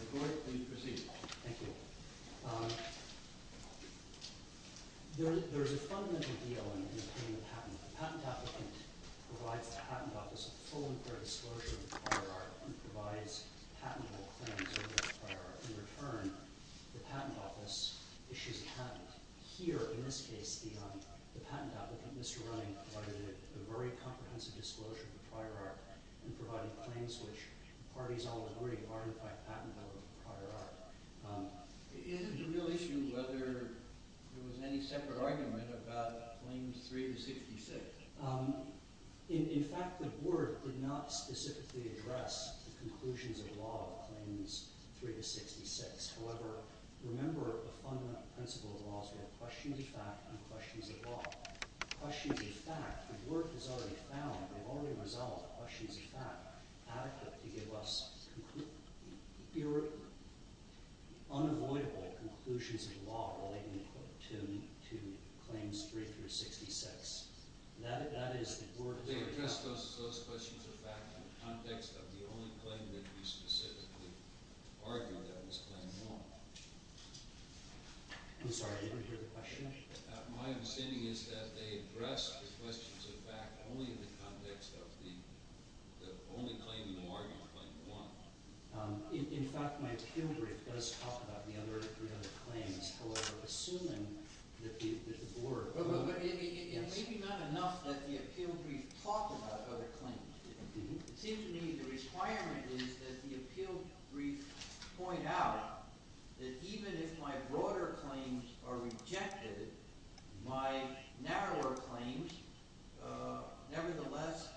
Good morning. Welcome to the court. Please proceed. Thank you. There's a fundamental deal in obtaining a patent. A patent applicant provides the patent office a full and clear disclosure of the prior art and provides patentable claims over the prior art. In return, the patent office issues a patent. Here, in this case, the patent applicant, Mr. Reuning, provided a very comprehensive disclosure of the prior art and provided claims which the parties all agreed were artified patentable prior art. Is it a real issue whether there was any separate argument about claims 3 to 66? In fact, the board did not specifically address the conclusions of law of claims 3 to 66. However, remember the fundamental principle of law is we have questions of fact and questions of law. Questions of fact, the board has already found, they've already resolved questions of fact adequate to give us unavoidable conclusions of law relating to claims 3 through 66. They addressed those questions of fact in the context of the only claim that we specifically argued that was claim 1. I'm sorry, I didn't hear the question. My understanding is that they addressed the questions of fact only in the context of the only claim you argued, claim 1. In fact, my appeal brief does talk about the other three other claims, however, assuming that the board... It may be not enough that the appeal brief talks about other claims. It seems to me the requirement is that the appeal brief point out that even if my broader claims are rejected, my narrower claims nevertheless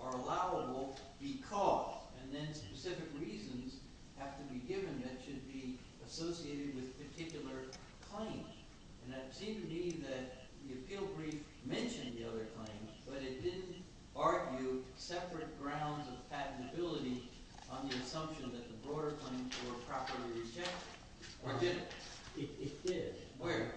are allowable because and then specific reasons have to be given that should be associated with a particular claim. And it seems to me that the appeal brief mentioned the other claims, but it didn't argue separate grounds of patentability on the assumption that the broader claims were properly rejected. Or did it? It did. Where?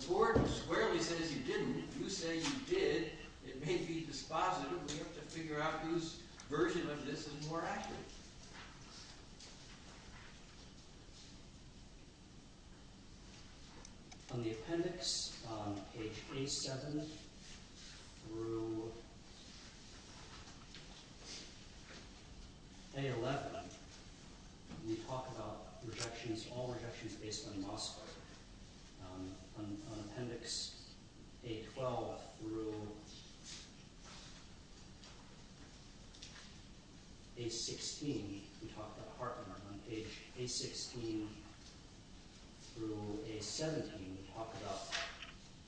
The board squarely says you didn't. If you say you did, it may be dispositive. We have to figure out whose version of this is more accurate. On the appendix, page A-7 through A-11, we talk about rejections, all rejections based on the loss factor. On appendix A-12 through A-16, we talk about Hartman. On page A-16 through A-17, we talk about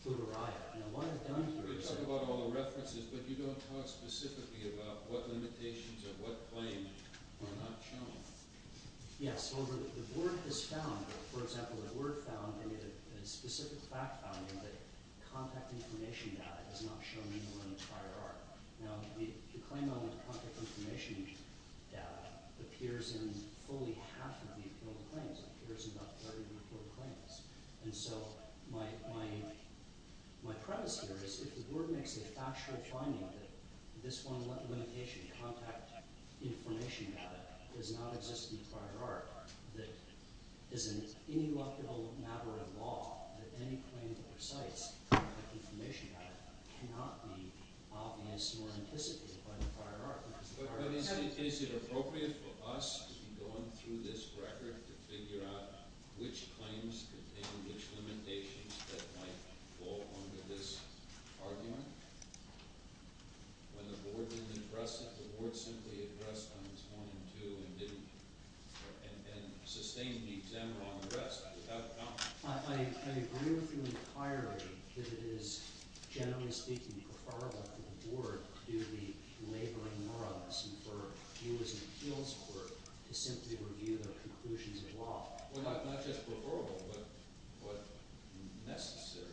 Guterria. We talk about all the references, but you don't talk specifically about what limitations or what claims were not shown. Yes, the board has found, for example, the board found in a specific fact finding that contact information data is not shown anymore in the prior art. Now, the claim on the contact information data appears in fully half of the appealed claims. It appears in about 30 of the appealed claims. And so my premise here is if the board makes a factual finding that this one limitation, contact information data, does not exist in the prior art, that is an ineluctable matter of law, that any claim that recites contact information data cannot be obvious or anticipated by the prior art. Is it appropriate for us to be going through this record to figure out which claims contain which limitations that might fall under this argument? When the board didn't address it, the board simply addressed on its own and didn't, and sustained the exam on the rest. I agree with your inquiry that it is, generally speaking, preferable for the board to be laboring more on this and for you as an appeals court to simply review the conclusions of law. Not just preferable, but necessary.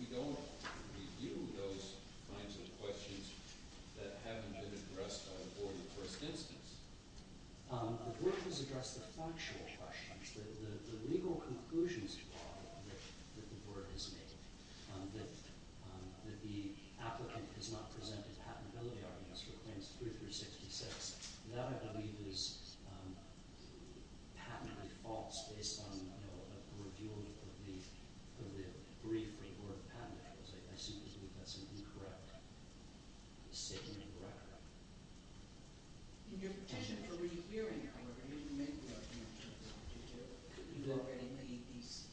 We don't review those kinds of questions that haven't been addressed by the board in the first instance. The board has addressed the factual questions, the legal conclusions of law that the board has made. That the applicant has not presented patentability arguments for claims 3 through 66. That, I believe, is patently false based on a review of the brief report of patentables. I assume that's incorrect. It's taken into the record. In your petition for rehearing, however, you didn't make the argument in terms of the petition. You've already made these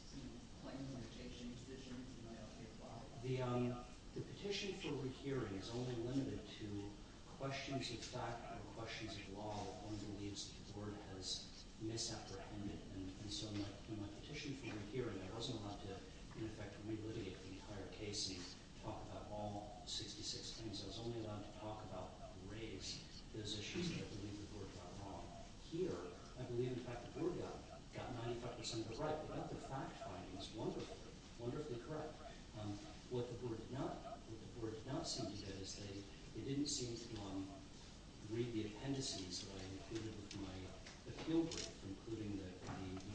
claims that have taken into the record. The petition for rehearing is only limited to questions of fact and questions of law. One believes that the board has misapprehended. In my petition for rehearing, I wasn't allowed to, in effect, re-litigate the entire case and talk about all 66 claims. I was only allowed to talk about the race. There's issues that I believe the board got wrong. Here, I believe, in fact, the board got 95% of it right. They got the fact findings wonderfully correct. What the board did not seem to get is that it didn't seem to read the appendices that I included with my appeal brief, including the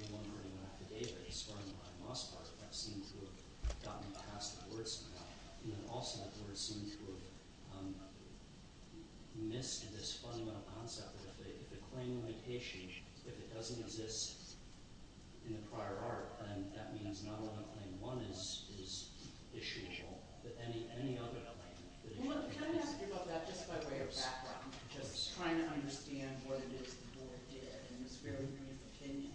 no longer in the affidavit, starting behind Mossberg. That seemed to have gotten past the board somehow. Also, the board seemed to have missed this fundamental concept that if a claim might issue, if it doesn't exist in the prior art, then that means not only that claim 1 is issuable, but any other claim that is— Can I ask you about that just by way of background? Just trying to understand what it is the board did in this very brief opinion.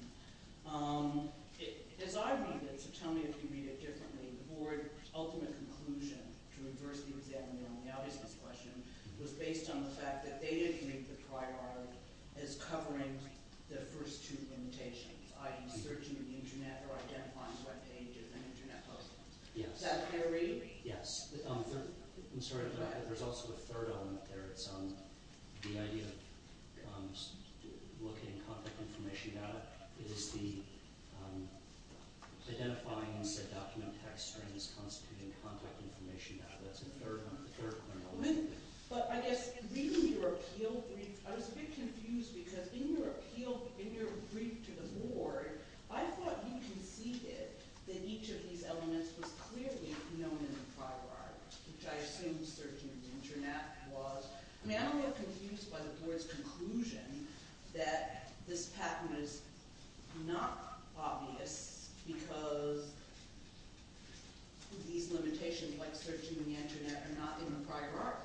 As I read it, so tell me if you read it differently, the board's ultimate conclusion to reverse the exam in the only-obviousness question was based on the fact that they didn't make the prior art as covering the first two limitations, i.e. searching the Internet or identifying the web page of an Internet post. Is that clear to read? Yes. I'm sorry, but there's also a third element there. The idea of locating contact information about it is the identifying said document text during this constituting contact information. That's the third element. But I guess reading your appeal brief, I was a bit confused because in your appeal—in your brief to the board, I thought you conceded that each of these elements was clearly known in the prior art, which I assume searching the Internet was. I mean, I'm a little confused by the board's conclusion that this patent is not obvious because these limitations, like searching the Internet, are not in the prior art.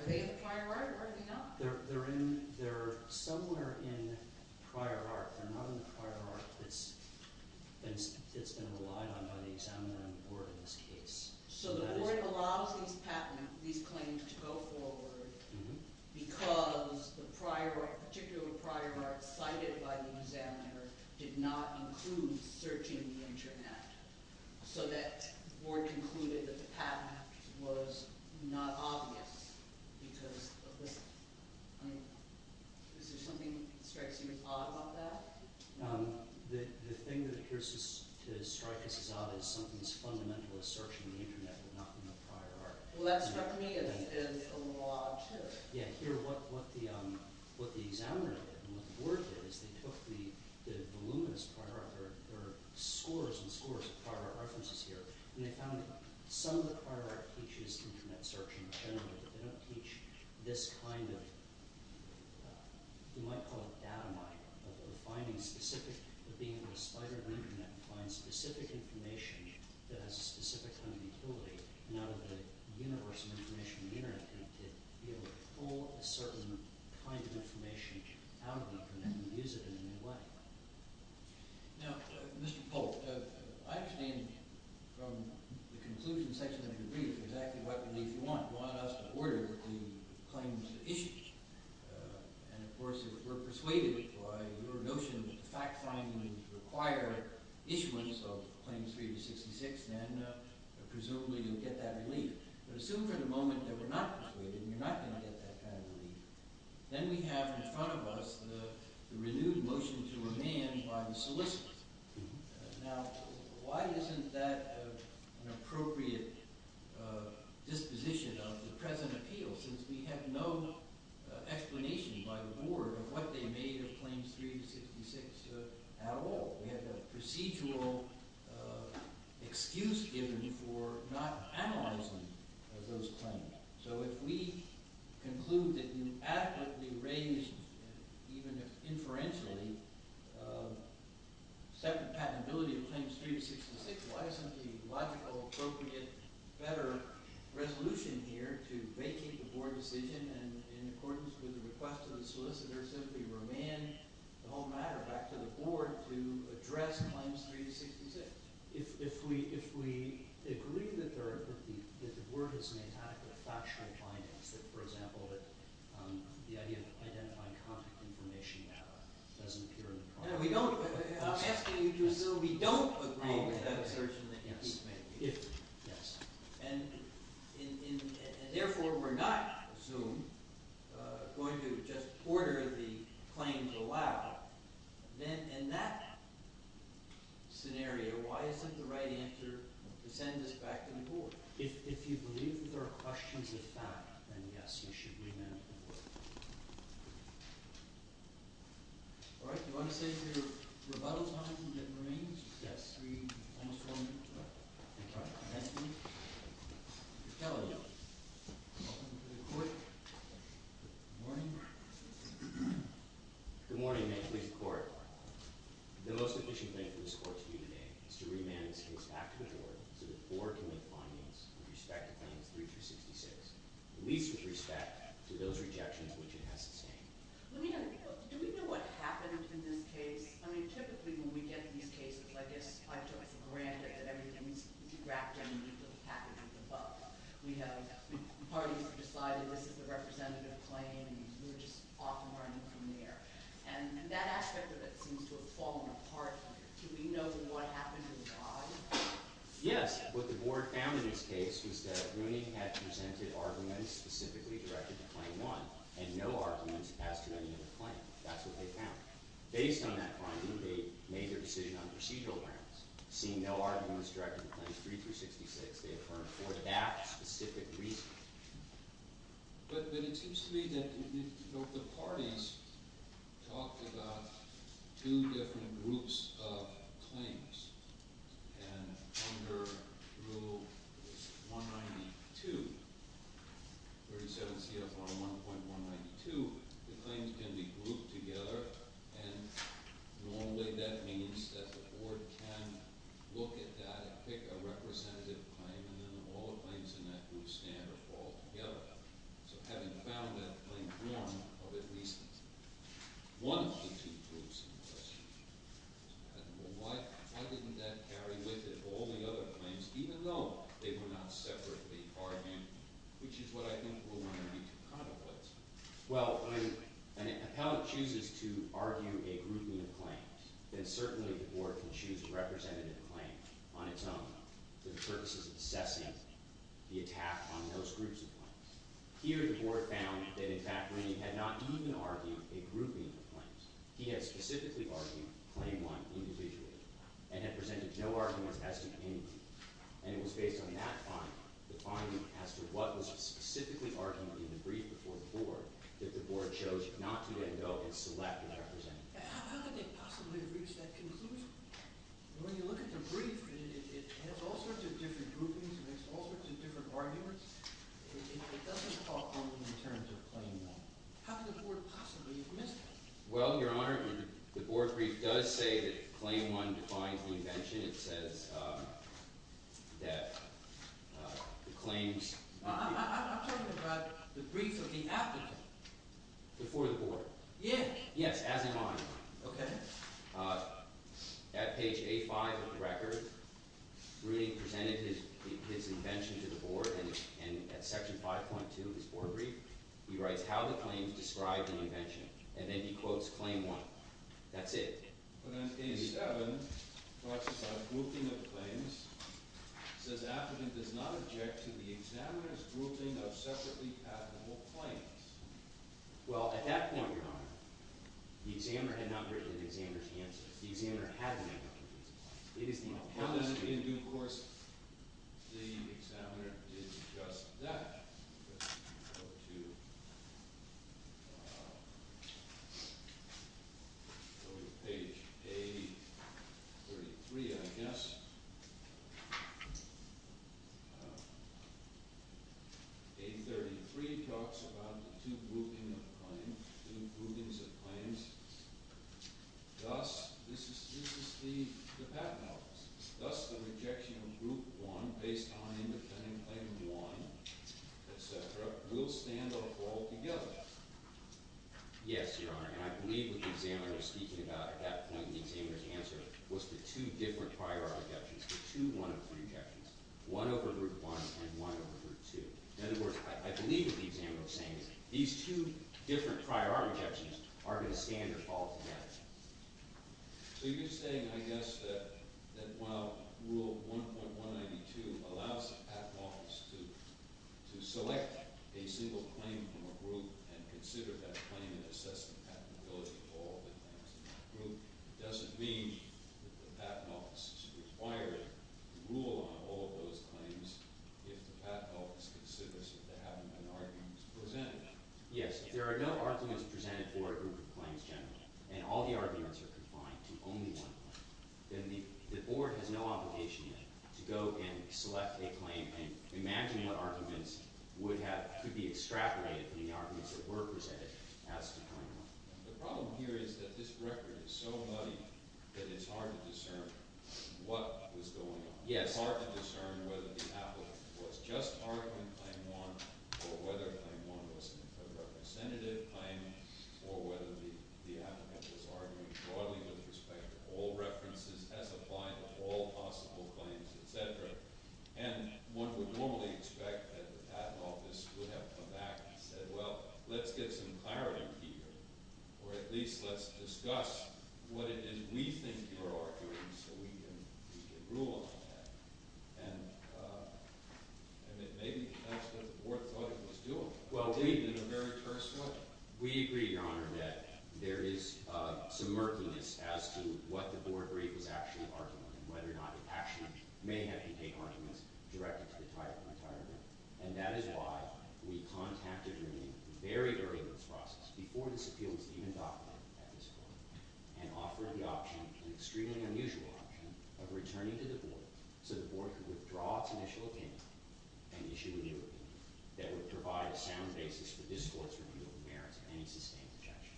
Are they in the prior art or are they not? They're somewhere in the prior art. They're not in the prior art that's been relied on by the examiner and the board in this case. So the board allows these claims to go forward because the particular prior art cited by the examiner did not include searching the Internet. So the board concluded that the patent was not obvious because of this. Is there something that strikes you as odd about that? The thing that appears to strike us as odd is something as fundamental as searching the Internet would not be in the prior art. Well, that struck me as odd, too. Yeah, here, what the examiner did and what the board did is they took the voluminous prior art— there are scores and scores of prior art references here— and they found that some of the prior art teaches Internet searching in general, but they don't teach this kind of, you might call it data mining, of being able to spider the Internet and find specific information that has a specific kind of utility and out of the universe of information in the Internet to be able to pull a certain kind of information out of the Internet and use it in a new way. Now, Mr. Polk, I understand from the conclusion section of your brief exactly what it is you want. You want us to order the claims issued. And, of course, if we're persuaded by your notion that the fact-finding would require issuance of Claims 3266, then presumably you'll get that relief. But assume for the moment that we're not persuaded and you're not going to get that kind of relief. Then we have in front of us the renewed motion to remand by the solicitors. Now, why isn't that an appropriate disposition of the present appeal, since we have no explanation by the board of what they made of Claims 3266 at all? We have a procedural excuse given for not analyzing those claims. So if we conclude that you adequately raised, even if inferentially, separate patentability of Claims 3266, why isn't the logical, appropriate, better resolution here to vacate the board decision and in accordance with the request of the solicitor simply remand the whole matter back to the board to address Claims 3266? If we agree that the board has made factually bindings, that, for example, that the idea of identifying contact information doesn't appear in the problem. I'm asking you to assume we don't agree with that assertion that you've made. Yes. And, therefore, we're not, I assume, going to just order the claims allowed. Then, in that scenario, why isn't the right answer to send this back to the board? If you believe that there are questions of fact, then, yes, you should remand the board. All right. Do you want to say your rebuttal time remains? Are we almost rolling? All right. Thank you. Welcome to the court. Good morning. Good morning. May it please the court. The most efficient thing for this court to do today is to remand this case back to the board so that the board can make findings with respect to Claims 3266, at least with respect to those rejections which it has sustained. Let me ask you, do we know what happened in this case? I mean, typically, when we get these cases, I guess, I take for granted that everything's wrapped underneath a packet of the above. We have parties who have decided this is the representative claim, and we're just off and running from there. And that aspect of it seems to have fallen apart. Do we know what happened to the body? Yes. What the board found in this case was that Rooney had presented arguments specifically directed to Claim 1, and no arguments passed to any other claim. That's what they found. Based on that finding, they made their decision on procedural grounds. Seeing no arguments directed to Claims 3366, they affirmed for that specific reason. But it seems to me that the parties talked about two different groups of claims. And under Rule 192, 37 CFR 1.192, the claims can be grouped together, and normally that means that the board can look at that and pick a representative claim, and then all the claims in that group stand or fall together. So having found that Claim 1 of at least one of the two groups in question, I don't know why didn't that carry with it all the other claims, even though they were not separately argued, which is what I think we're going to need to contemplate. Well, if an appellate chooses to argue a grouping of claims, then certainly the board can choose a representative claim on its own for the purposes of assessing the attack on those groups of claims. Here the board found that, in fact, Rooney had not even argued a grouping of claims. He had specifically argued Claim 1 individually and had presented no arguments as to any group. And it was based on that finding, the finding as to what was specifically argued in the brief before the board, that the board chose not to then go and select a representative. How did they possibly reach that conclusion? When you look at the brief, it has all sorts of different groupings and has all sorts of different arguments. It doesn't fall under the terms of Claim 1. How could the board possibly have missed it? Well, Your Honor, the board brief does say that Claim 1 defines the invention. It says that the claims… I'm talking about the brief of the applicant. Before the board. Yes. Yes, as in mine. Okay. At page A5 of the record, Rooney presented his invention to the board, and at Section 5.2 of his board brief, he writes how the claims describe the invention, and then he quotes Claim 1. That's it. But on page 7, it talks about grouping of claims. It says the applicant does not object to the examiner's grouping of separately patentable claims. Well, at that point, Your Honor, the examiner had not written the examiner's answer. The examiner had a number of confusing claims. It is the appellant's view. In due course, the examiner did just that. Go to page A33, I guess. A33 talks about the two groupings of claims. Two groupings of claims. Thus, this is the patent office. Thus, the rejection of Group 1 based on independent Claim 1, et cetera, will stand up altogether. Yes, Your Honor, and I believe what the examiner was speaking about at that point in the examiner's answer was the two different prior art rejections, the two one-over-three rejections, one over Group 1 and one over Group 2. In other words, I believe what the examiner was saying is these two different prior art rejections are going to stand or fall together. So you're saying, I guess, that while Rule 1.192 allows the patent office to select a single claim from a group and consider that claim and assess the patentability of all the claims in that group, it doesn't mean that the patent office is required to rule on all of those claims if the patent office considers that there haven't been arguments presented. Yes, if there are no arguments presented for a group of claims generally and all the arguments are confined to only one claim, then the board has no obligation to go and select a claim and imagine what arguments would have – could be extrapolated from the arguments that were presented as to claim 1. The problem here is that this record is so muddy that it's hard to discern what was going on. Yes. It's hard to discern whether the applicant was just arguing claim 1 or whether claim 1 was a representative claim or whether the applicant was arguing broadly with respect to all references as applied to all possible claims, etc. And one would normally expect that the patent office would have come back and said, well, let's get some clarity here or at least let's discuss what it is we think you're arguing so we can rule on that. And it may be because the board thought it was doable. Well, we – In a very personal – We agree, Your Honor, that there is some murkiness as to what the board rate was actually arguing and whether or not it actually may have contained arguments directed to the title and title. And that is why we contacted her name very early in this process, before this appeal was even documented at this point, and offered the option, an extremely unusual option, of returning to the board so the board could withdraw its initial opinion and issue a new opinion that would provide a sound basis for this court's review of the merits of any sustained objection.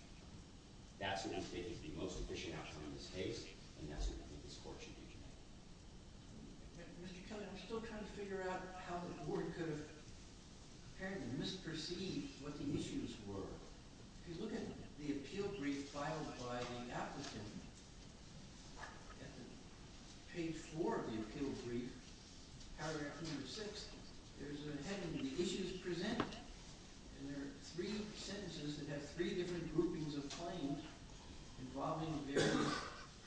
That's what I think is the most efficient option in this case, and that's what I think this court should do today. Mr. Kelly, I'm still trying to figure out how the board could have apparently misperceived what the issues were. If you look at the appeal brief filed by the applicant, at page 4 of the appeal brief, paragraph number 6, there's a heading, The Issues Presented, and there are three sentences that have three different groupings of claims involving various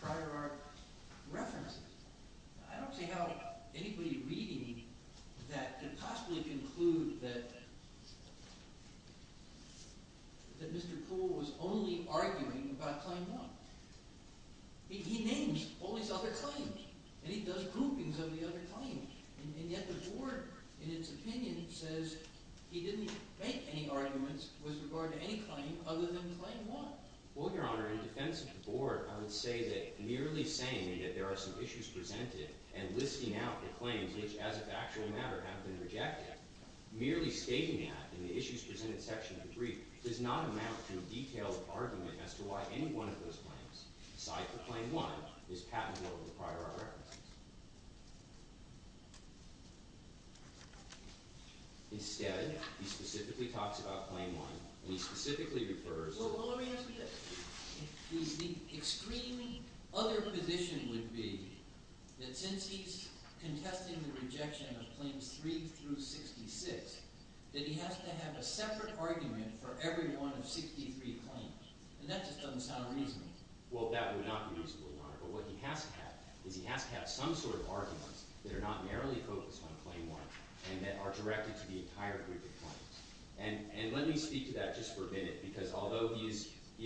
prior art references. I don't see how anybody reading that could possibly conclude that Mr. Poole was only arguing about Claim 1. He names all these other claims, and he does groupings of the other claims. And yet the board, in its opinion, says he didn't make any arguments with regard to any claim other than Claim 1. Well, Your Honor, in defense of the board, I would say that merely saying that there are some issues presented and listing out the claims which, as of actual matter, have been rejected, merely stating that in the Issues Presented section of the brief does not amount to a detailed argument as to why any one of those claims, aside from Claim 1, is patentable with prior art references. Instead, he specifically talks about Claim 1, and he specifically refers to— that he has to have a separate argument for every one of 63 claims. And that just doesn't sound reasonable. Well, that would not be reasonable, Your Honor. But what he has to have is he has to have some sort of arguments that are not narrowly focused on Claim 1 and that are directed to the entire group of claims. And let me speak to that just for a minute, because although he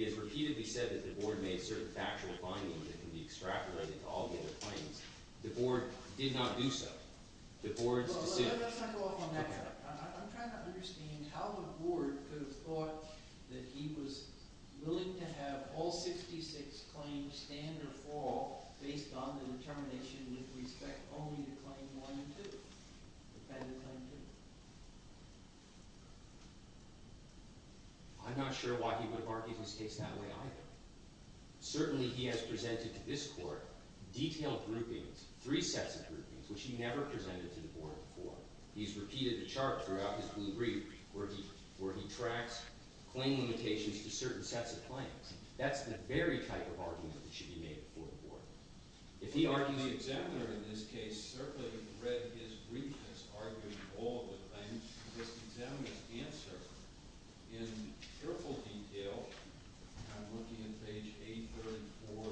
has repeatedly said that the board made certain factual findings that can be extrapolated to all the other claims, the board did not do so. The board's decision— Well, let's not go off on that. Okay. I'm trying to understand how the board could have thought that he was willing to have all 66 claims stand or fall based on the determination with respect only to Claim 1 and 2, the patent Claim 2. I'm not sure why he would have argued his case that way either. Certainly, he has presented to this court detailed groupings, three sets of groupings, which he never presented to the board before. He's repeated the chart throughout his blue brief, where he tracks claim limitations to certain sets of claims. That's the very type of argument that should be made before the board. If he argues— The examiner in this case certainly read his brief and has argued all the claims. This examiner's answer, in careful detail—I'm looking at page 834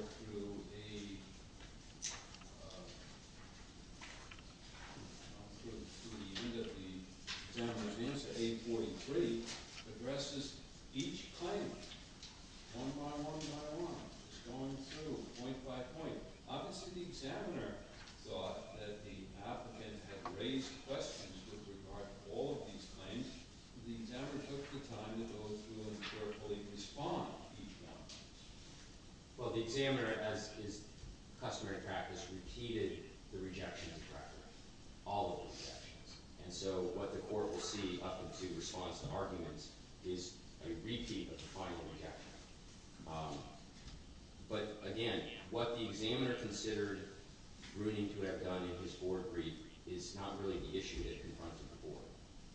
through 843—addresses each claim, one by one by one, going through point by point. Obviously, the examiner thought that the applicant had raised questions with regard to all of these claims. The examiner took the time to go through and carefully respond to each one. Well, the examiner, as is customary practice, repeated the rejection of the record, all of the rejections. And so what the court will see up to response to arguments is a repeat of the final rejection. But again, what the examiner considered ruining to have done in his board brief is not really the issue that confronted the board.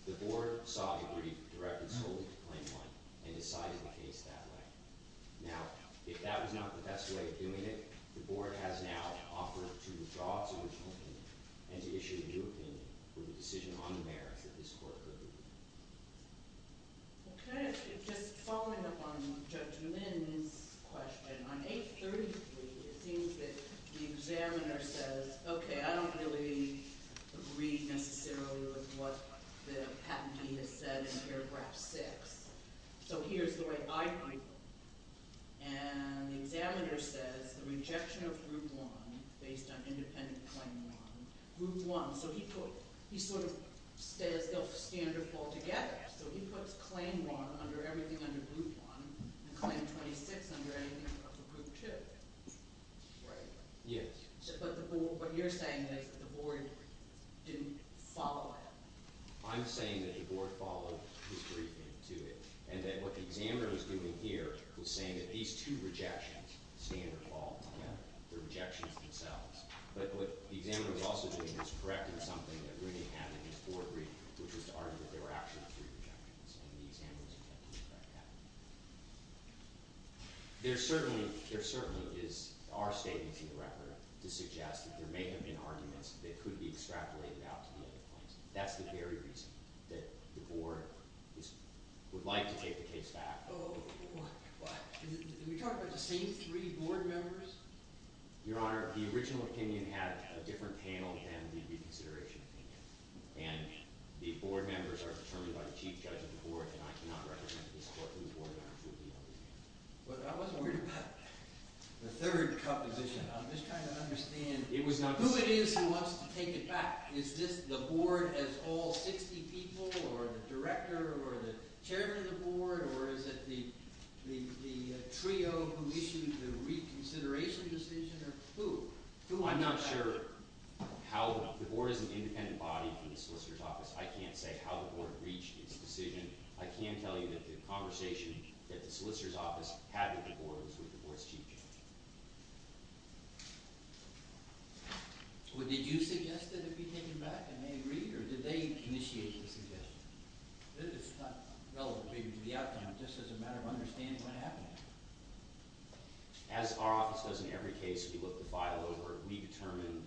The board saw a brief directed solely to claim one and decided the case that way. Now, if that was not the best way of doing it, the board has now offered to withdraw its original opinion and to issue a new opinion with a decision on the merits that this court could agree to. Okay, just following up on Judge Minn's question, on 833, it seems that the examiner says, okay, I don't really agree necessarily with what the patentee has said in paragraph 6, so here's the way I view it. And the examiner says the rejection of group one based on independent claim one, group one, so he sort of says they'll stand or fall together. So he puts claim one under everything under group one and claim 26 under everything under group two. Right? Yes. But the board – what you're saying is that the board didn't follow that? I'm saying that the board followed his briefing to it and that what the examiner was doing here was saying that these two rejections stand or fall together. They're rejections themselves. But what the examiner was also doing was correcting something that really happened in his board brief, which was to argue that there were actually three rejections and the examiner was attempting to correct that. There certainly is – there certainly are statements in the record to suggest that there may have been arguments that could be extrapolated out to the other claims. That's the very reason that the board would like to take the case back. What? Did we talk about the same three board members? Your Honor, the original opinion had a different panel than the reconsideration opinion, and the board members are determined by the chief judge of the court, and I cannot recommend this court to the board members who would be on his behalf. But I wasn't worried about the third composition. I'm just trying to understand who it is who wants to take it back. Is this the board as all 60 people or the director or the chairman of the board or is it the trio who issued the reconsideration decision or who? I'm not sure how – the board is an independent body from the solicitor's office. I can't say how the board reached its decision. I can tell you that the conversation that the solicitor's office had with the board was with the board's chief judge. Well, did you suggest that it be taken back, and they agreed, or did they initiate the suggestion? This is not relevant to the outcome. This is a matter of understanding what happened. As our office does in every case we look the file over, we determine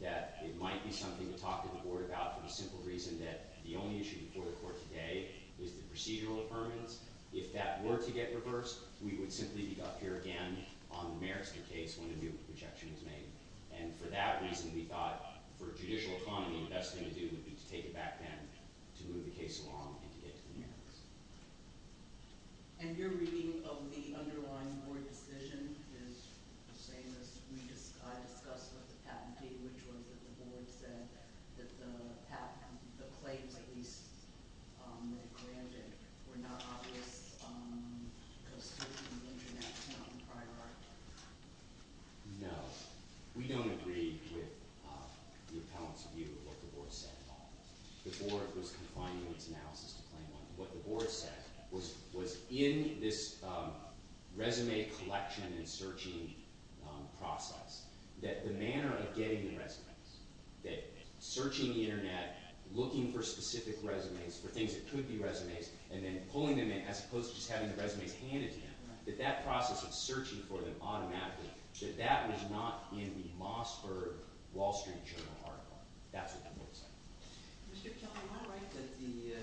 that it might be something to talk to the board about for the simple reason that the only issue before the court today is the procedural affirmance. If that were to get reversed, we would simply be up here again on the Merister case when a new rejection is made. And for that reason, we thought for a judicial economy, the best thing to do would be to take it back then to move the case along and to get to the Meristers. And your reading of the underlying board decision is the same as we discussed with the patentee, which was that the board said that the claims at least that it granted were not obvious because certainly the internet is not the priority. No. We don't agree with the appellant's view of what the board said. The board was confining its analysis to claim one. What the board said was in this resume collection and searching process that the manner of getting the resumes, that searching the internet, looking for specific resumes for things that could be resumes, and then pulling them in as opposed to just having the resumes handed to them, that that process of searching for them automatically, that that was not in the Mossberg Wall Street Journal article. That's what the board said. Mr. Kelly, am I right that the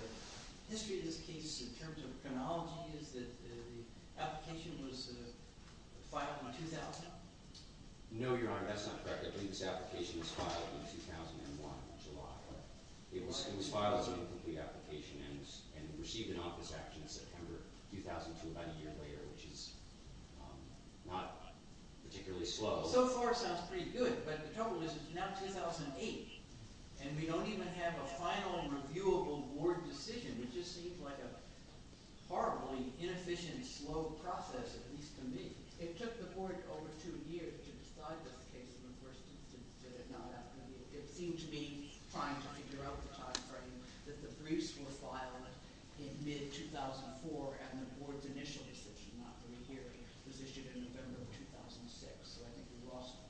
history of this case in terms of chronology is that the application was filed in 2000? No, Your Honor. That's not correct. I think this application was filed in 2001, July. It was filed as an incomplete application and received an office action in September 2002, about a year later, which is not particularly slow. So far, it sounds pretty good, but the trouble is it's now 2008, and we don't even have a final reviewable board decision. It just seems like a horribly inefficient, slow process, at least to me. It took the board over two years to decide this case in the first instance. It seemed to be trying to figure out the time frame that the briefs were filed in mid-2004 and the board's initial decision not to rehear it was issued in November 2006. So I think we lost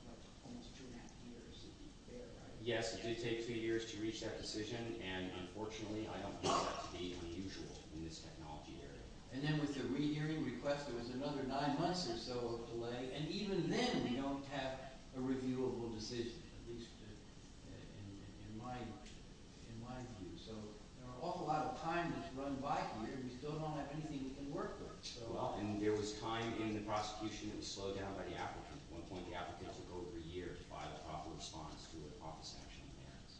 almost two and a half years there, right? Yes, it did take two years to reach that decision, and unfortunately, I don't think that's the unusual in this technology area. And then with the rehearing request, there was another nine months or so of delay, and even then we don't have a reviewable decision, at least in my view. So there are an awful lot of time that's run by here, and we still don't have anything we can work with. Well, and there was time in the prosecution that was slowed down by the applicants. At one point, the applicants would go over a year to file a proper response to a proper sanctioning clearance.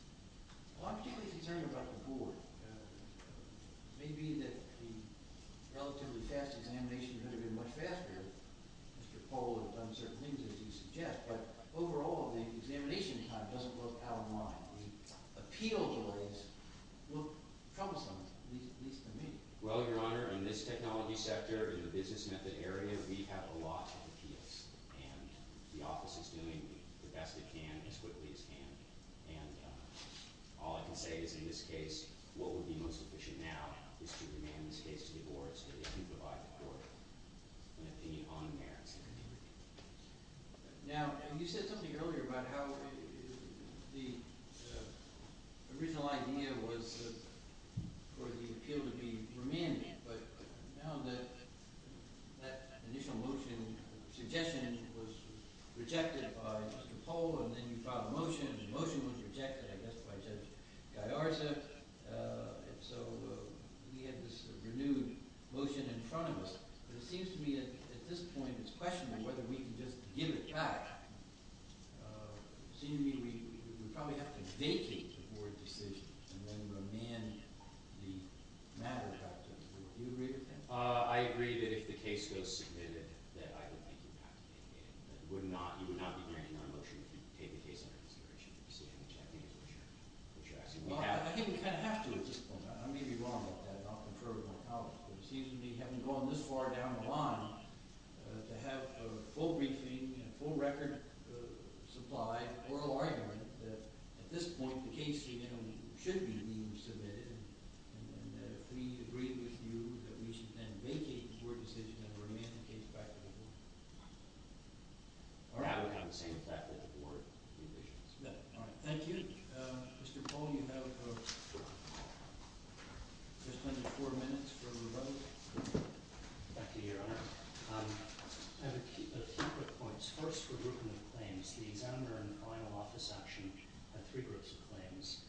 Well, I'm particularly concerned about the board. It may be that the relatively fast examination could have been much faster. Mr. Pohl had done certain things, as you suggest, but overall, the examination time doesn't look out of line. The appeal delays look troublesome, at least to me. Well, Your Honor, in this technology sector, in the business method area, we have a lot of appeals, and the office is doing the best it can as quickly as can. And all I can say is in this case, what would be most efficient now is to demand this case to the board so that they can provide the court an opinion on the merits of the appeal. Now, you said something earlier about how the original idea was for the appeal to be remanded. But now that initial motion suggestion was rejected by Mr. Pohl, and then you filed a motion, and the motion was rejected, I guess, by Judge Guyarza. And so we have this renewed motion in front of us. But it seems to me at this point it's questionable whether we can just give it back. It seems to me we would probably have to vacate the board decision and then remand the matter back to us. Would you agree with that? I agree that if the case goes submitted, that I would make you have to vacate it. You would not be granting our motion if you take the case under consideration, which I think is what you're asking. Well, I think we kind of have to at this point. I may be wrong about that. I'll concur with my colleagues. But it seems to me having gone this far down the line to have a full briefing and a full record supply, oral argument that at this point the case should be being submitted. And if we agree with you that we should then vacate the board decision and remand the case back to the board. I would have the same effect with the board revisions. All right. Thank you. Mr. Paul, you now have just under four minutes for rebuttal. Thank you, Your Honour. I have a few quick points. First, for the group of claims, the examiner in the final office action had three groups of claims.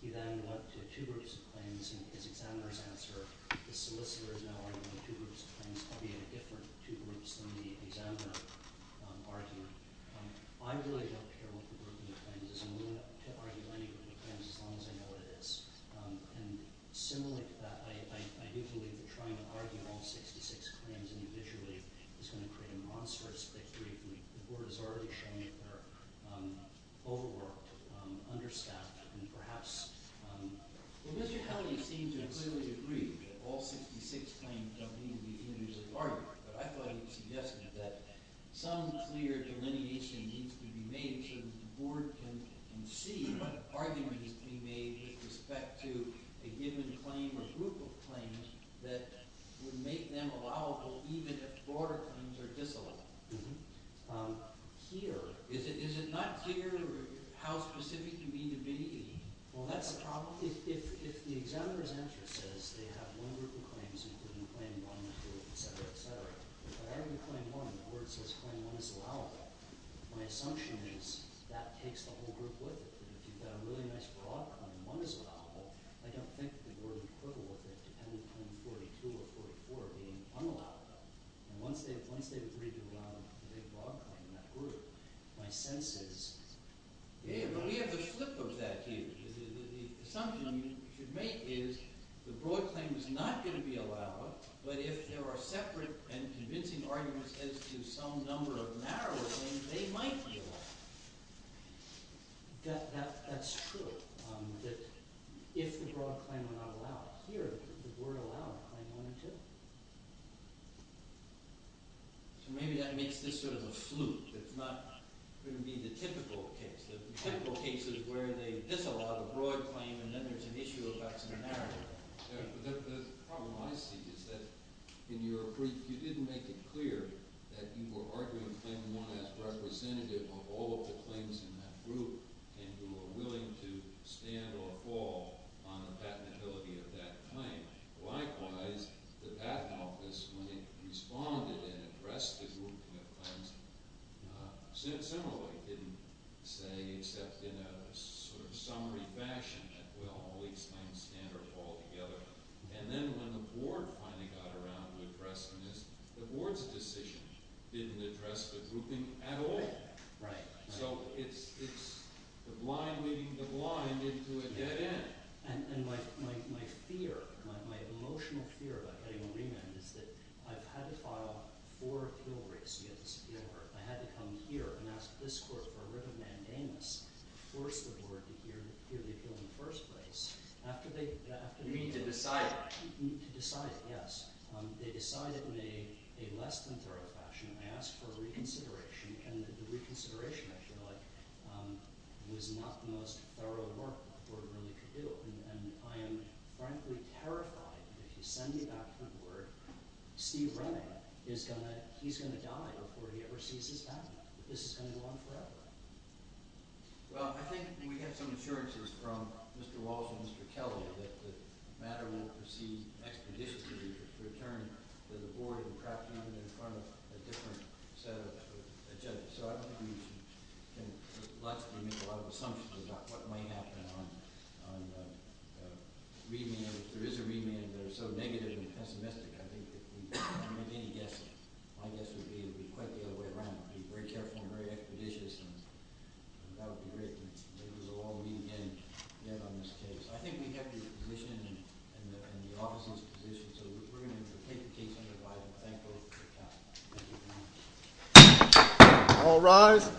He then went to two groups of claims, and his examiner's answer, the solicitor is now arguing two groups of claims, albeit a different two groups than the examiner argued. I really don't care what the group of claims is. I'm willing to argue any group of claims as long as I know what it is. And similarly to that, I do believe that trying to argue all 66 claims individually is going to create a monstrous victory. The board has already shown that they're overworked, understaffed, and perhaps – Well, Mr. Howell, you seem to clearly agree that all 66 claims don't need to be individually argued. But I thought you suggested that some clear delineation needs to be made so that the board can see what arguments can be made with respect to a given claim or group of claims that would make them allowable even if broader claims are disallowable. Here, is it not clear how specific you mean to be? Well, that's the problem. If the examiner's answer says they have one group of claims including claim one, two, et cetera, et cetera, if I argue claim one, the board says claim one is allowable, my assumption is that takes the whole group with it. If you've got a really nice broad claim, one is allowable, I don't think the board would quibble with it depending on claim 42 or 44 being unallowable. And once they've agreed to allow a big broad claim in that group, my sense is – Yeah, but we have the flip of that here. The assumption you should make is the broad claim is not going to be allowed, but if there are separate and convincing arguments as to some number of narrow claims, they might be allowed. That's true, that if the broad claim were not allowed here, the board would allow claim one, too. So maybe that makes this sort of a fluke. It's not going to be the typical case. The typical case is where they disallow the broad claim and then there's an issue about some narrow claim. Yeah, but the problem I see is that in your brief, you didn't make it clear that you were arguing claim one as representative of all of the claims in that group and you were willing to stand or fall on the patentability of that claim. Likewise, the patent office, when it responded and addressed the grouping of claims, similarly didn't say except in a sort of summary fashion that, well, at least I can stand or fall together. And then when the board finally got around to addressing this, the board's decision didn't address the grouping at all. Right, right. So it's the blind leading the blind into a dead end. And my fear, my emotional fear about getting a remand is that I've had to file four appeal rates to get this appeal heard. I had to come here and ask this court for a written mandamus to force the board to hear the appeal in the first place. You mean to decide it? To decide it, yes. They decided in a less than thorough fashion. I asked for reconsideration and the reconsideration, I feel like, was not the most thorough work the board really could do. And I am frankly terrified that if you send me back to the board, Steve Ray is going to, he's going to die before he ever sees his patent. This is going to go on forever. Well, I think we have some assurances from Mr. Walsh and Mr. Kelly that the matter won't proceed expeditiously to return to the board and perhaps even in front of a different set of judges. So I don't think we can make a lot of assumptions about what might happen on remand if there is a remand that is so negative and pessimistic. I think if we make any guesses, my guess would be it would be quite the other way around. It would be very careful and very expeditious. And that would be great. Maybe we'll all meet again yet on this case. I think we have your position and the office's position. So we're going to take the case on the divide and thank both of you for coming. Thank you very much. All rise.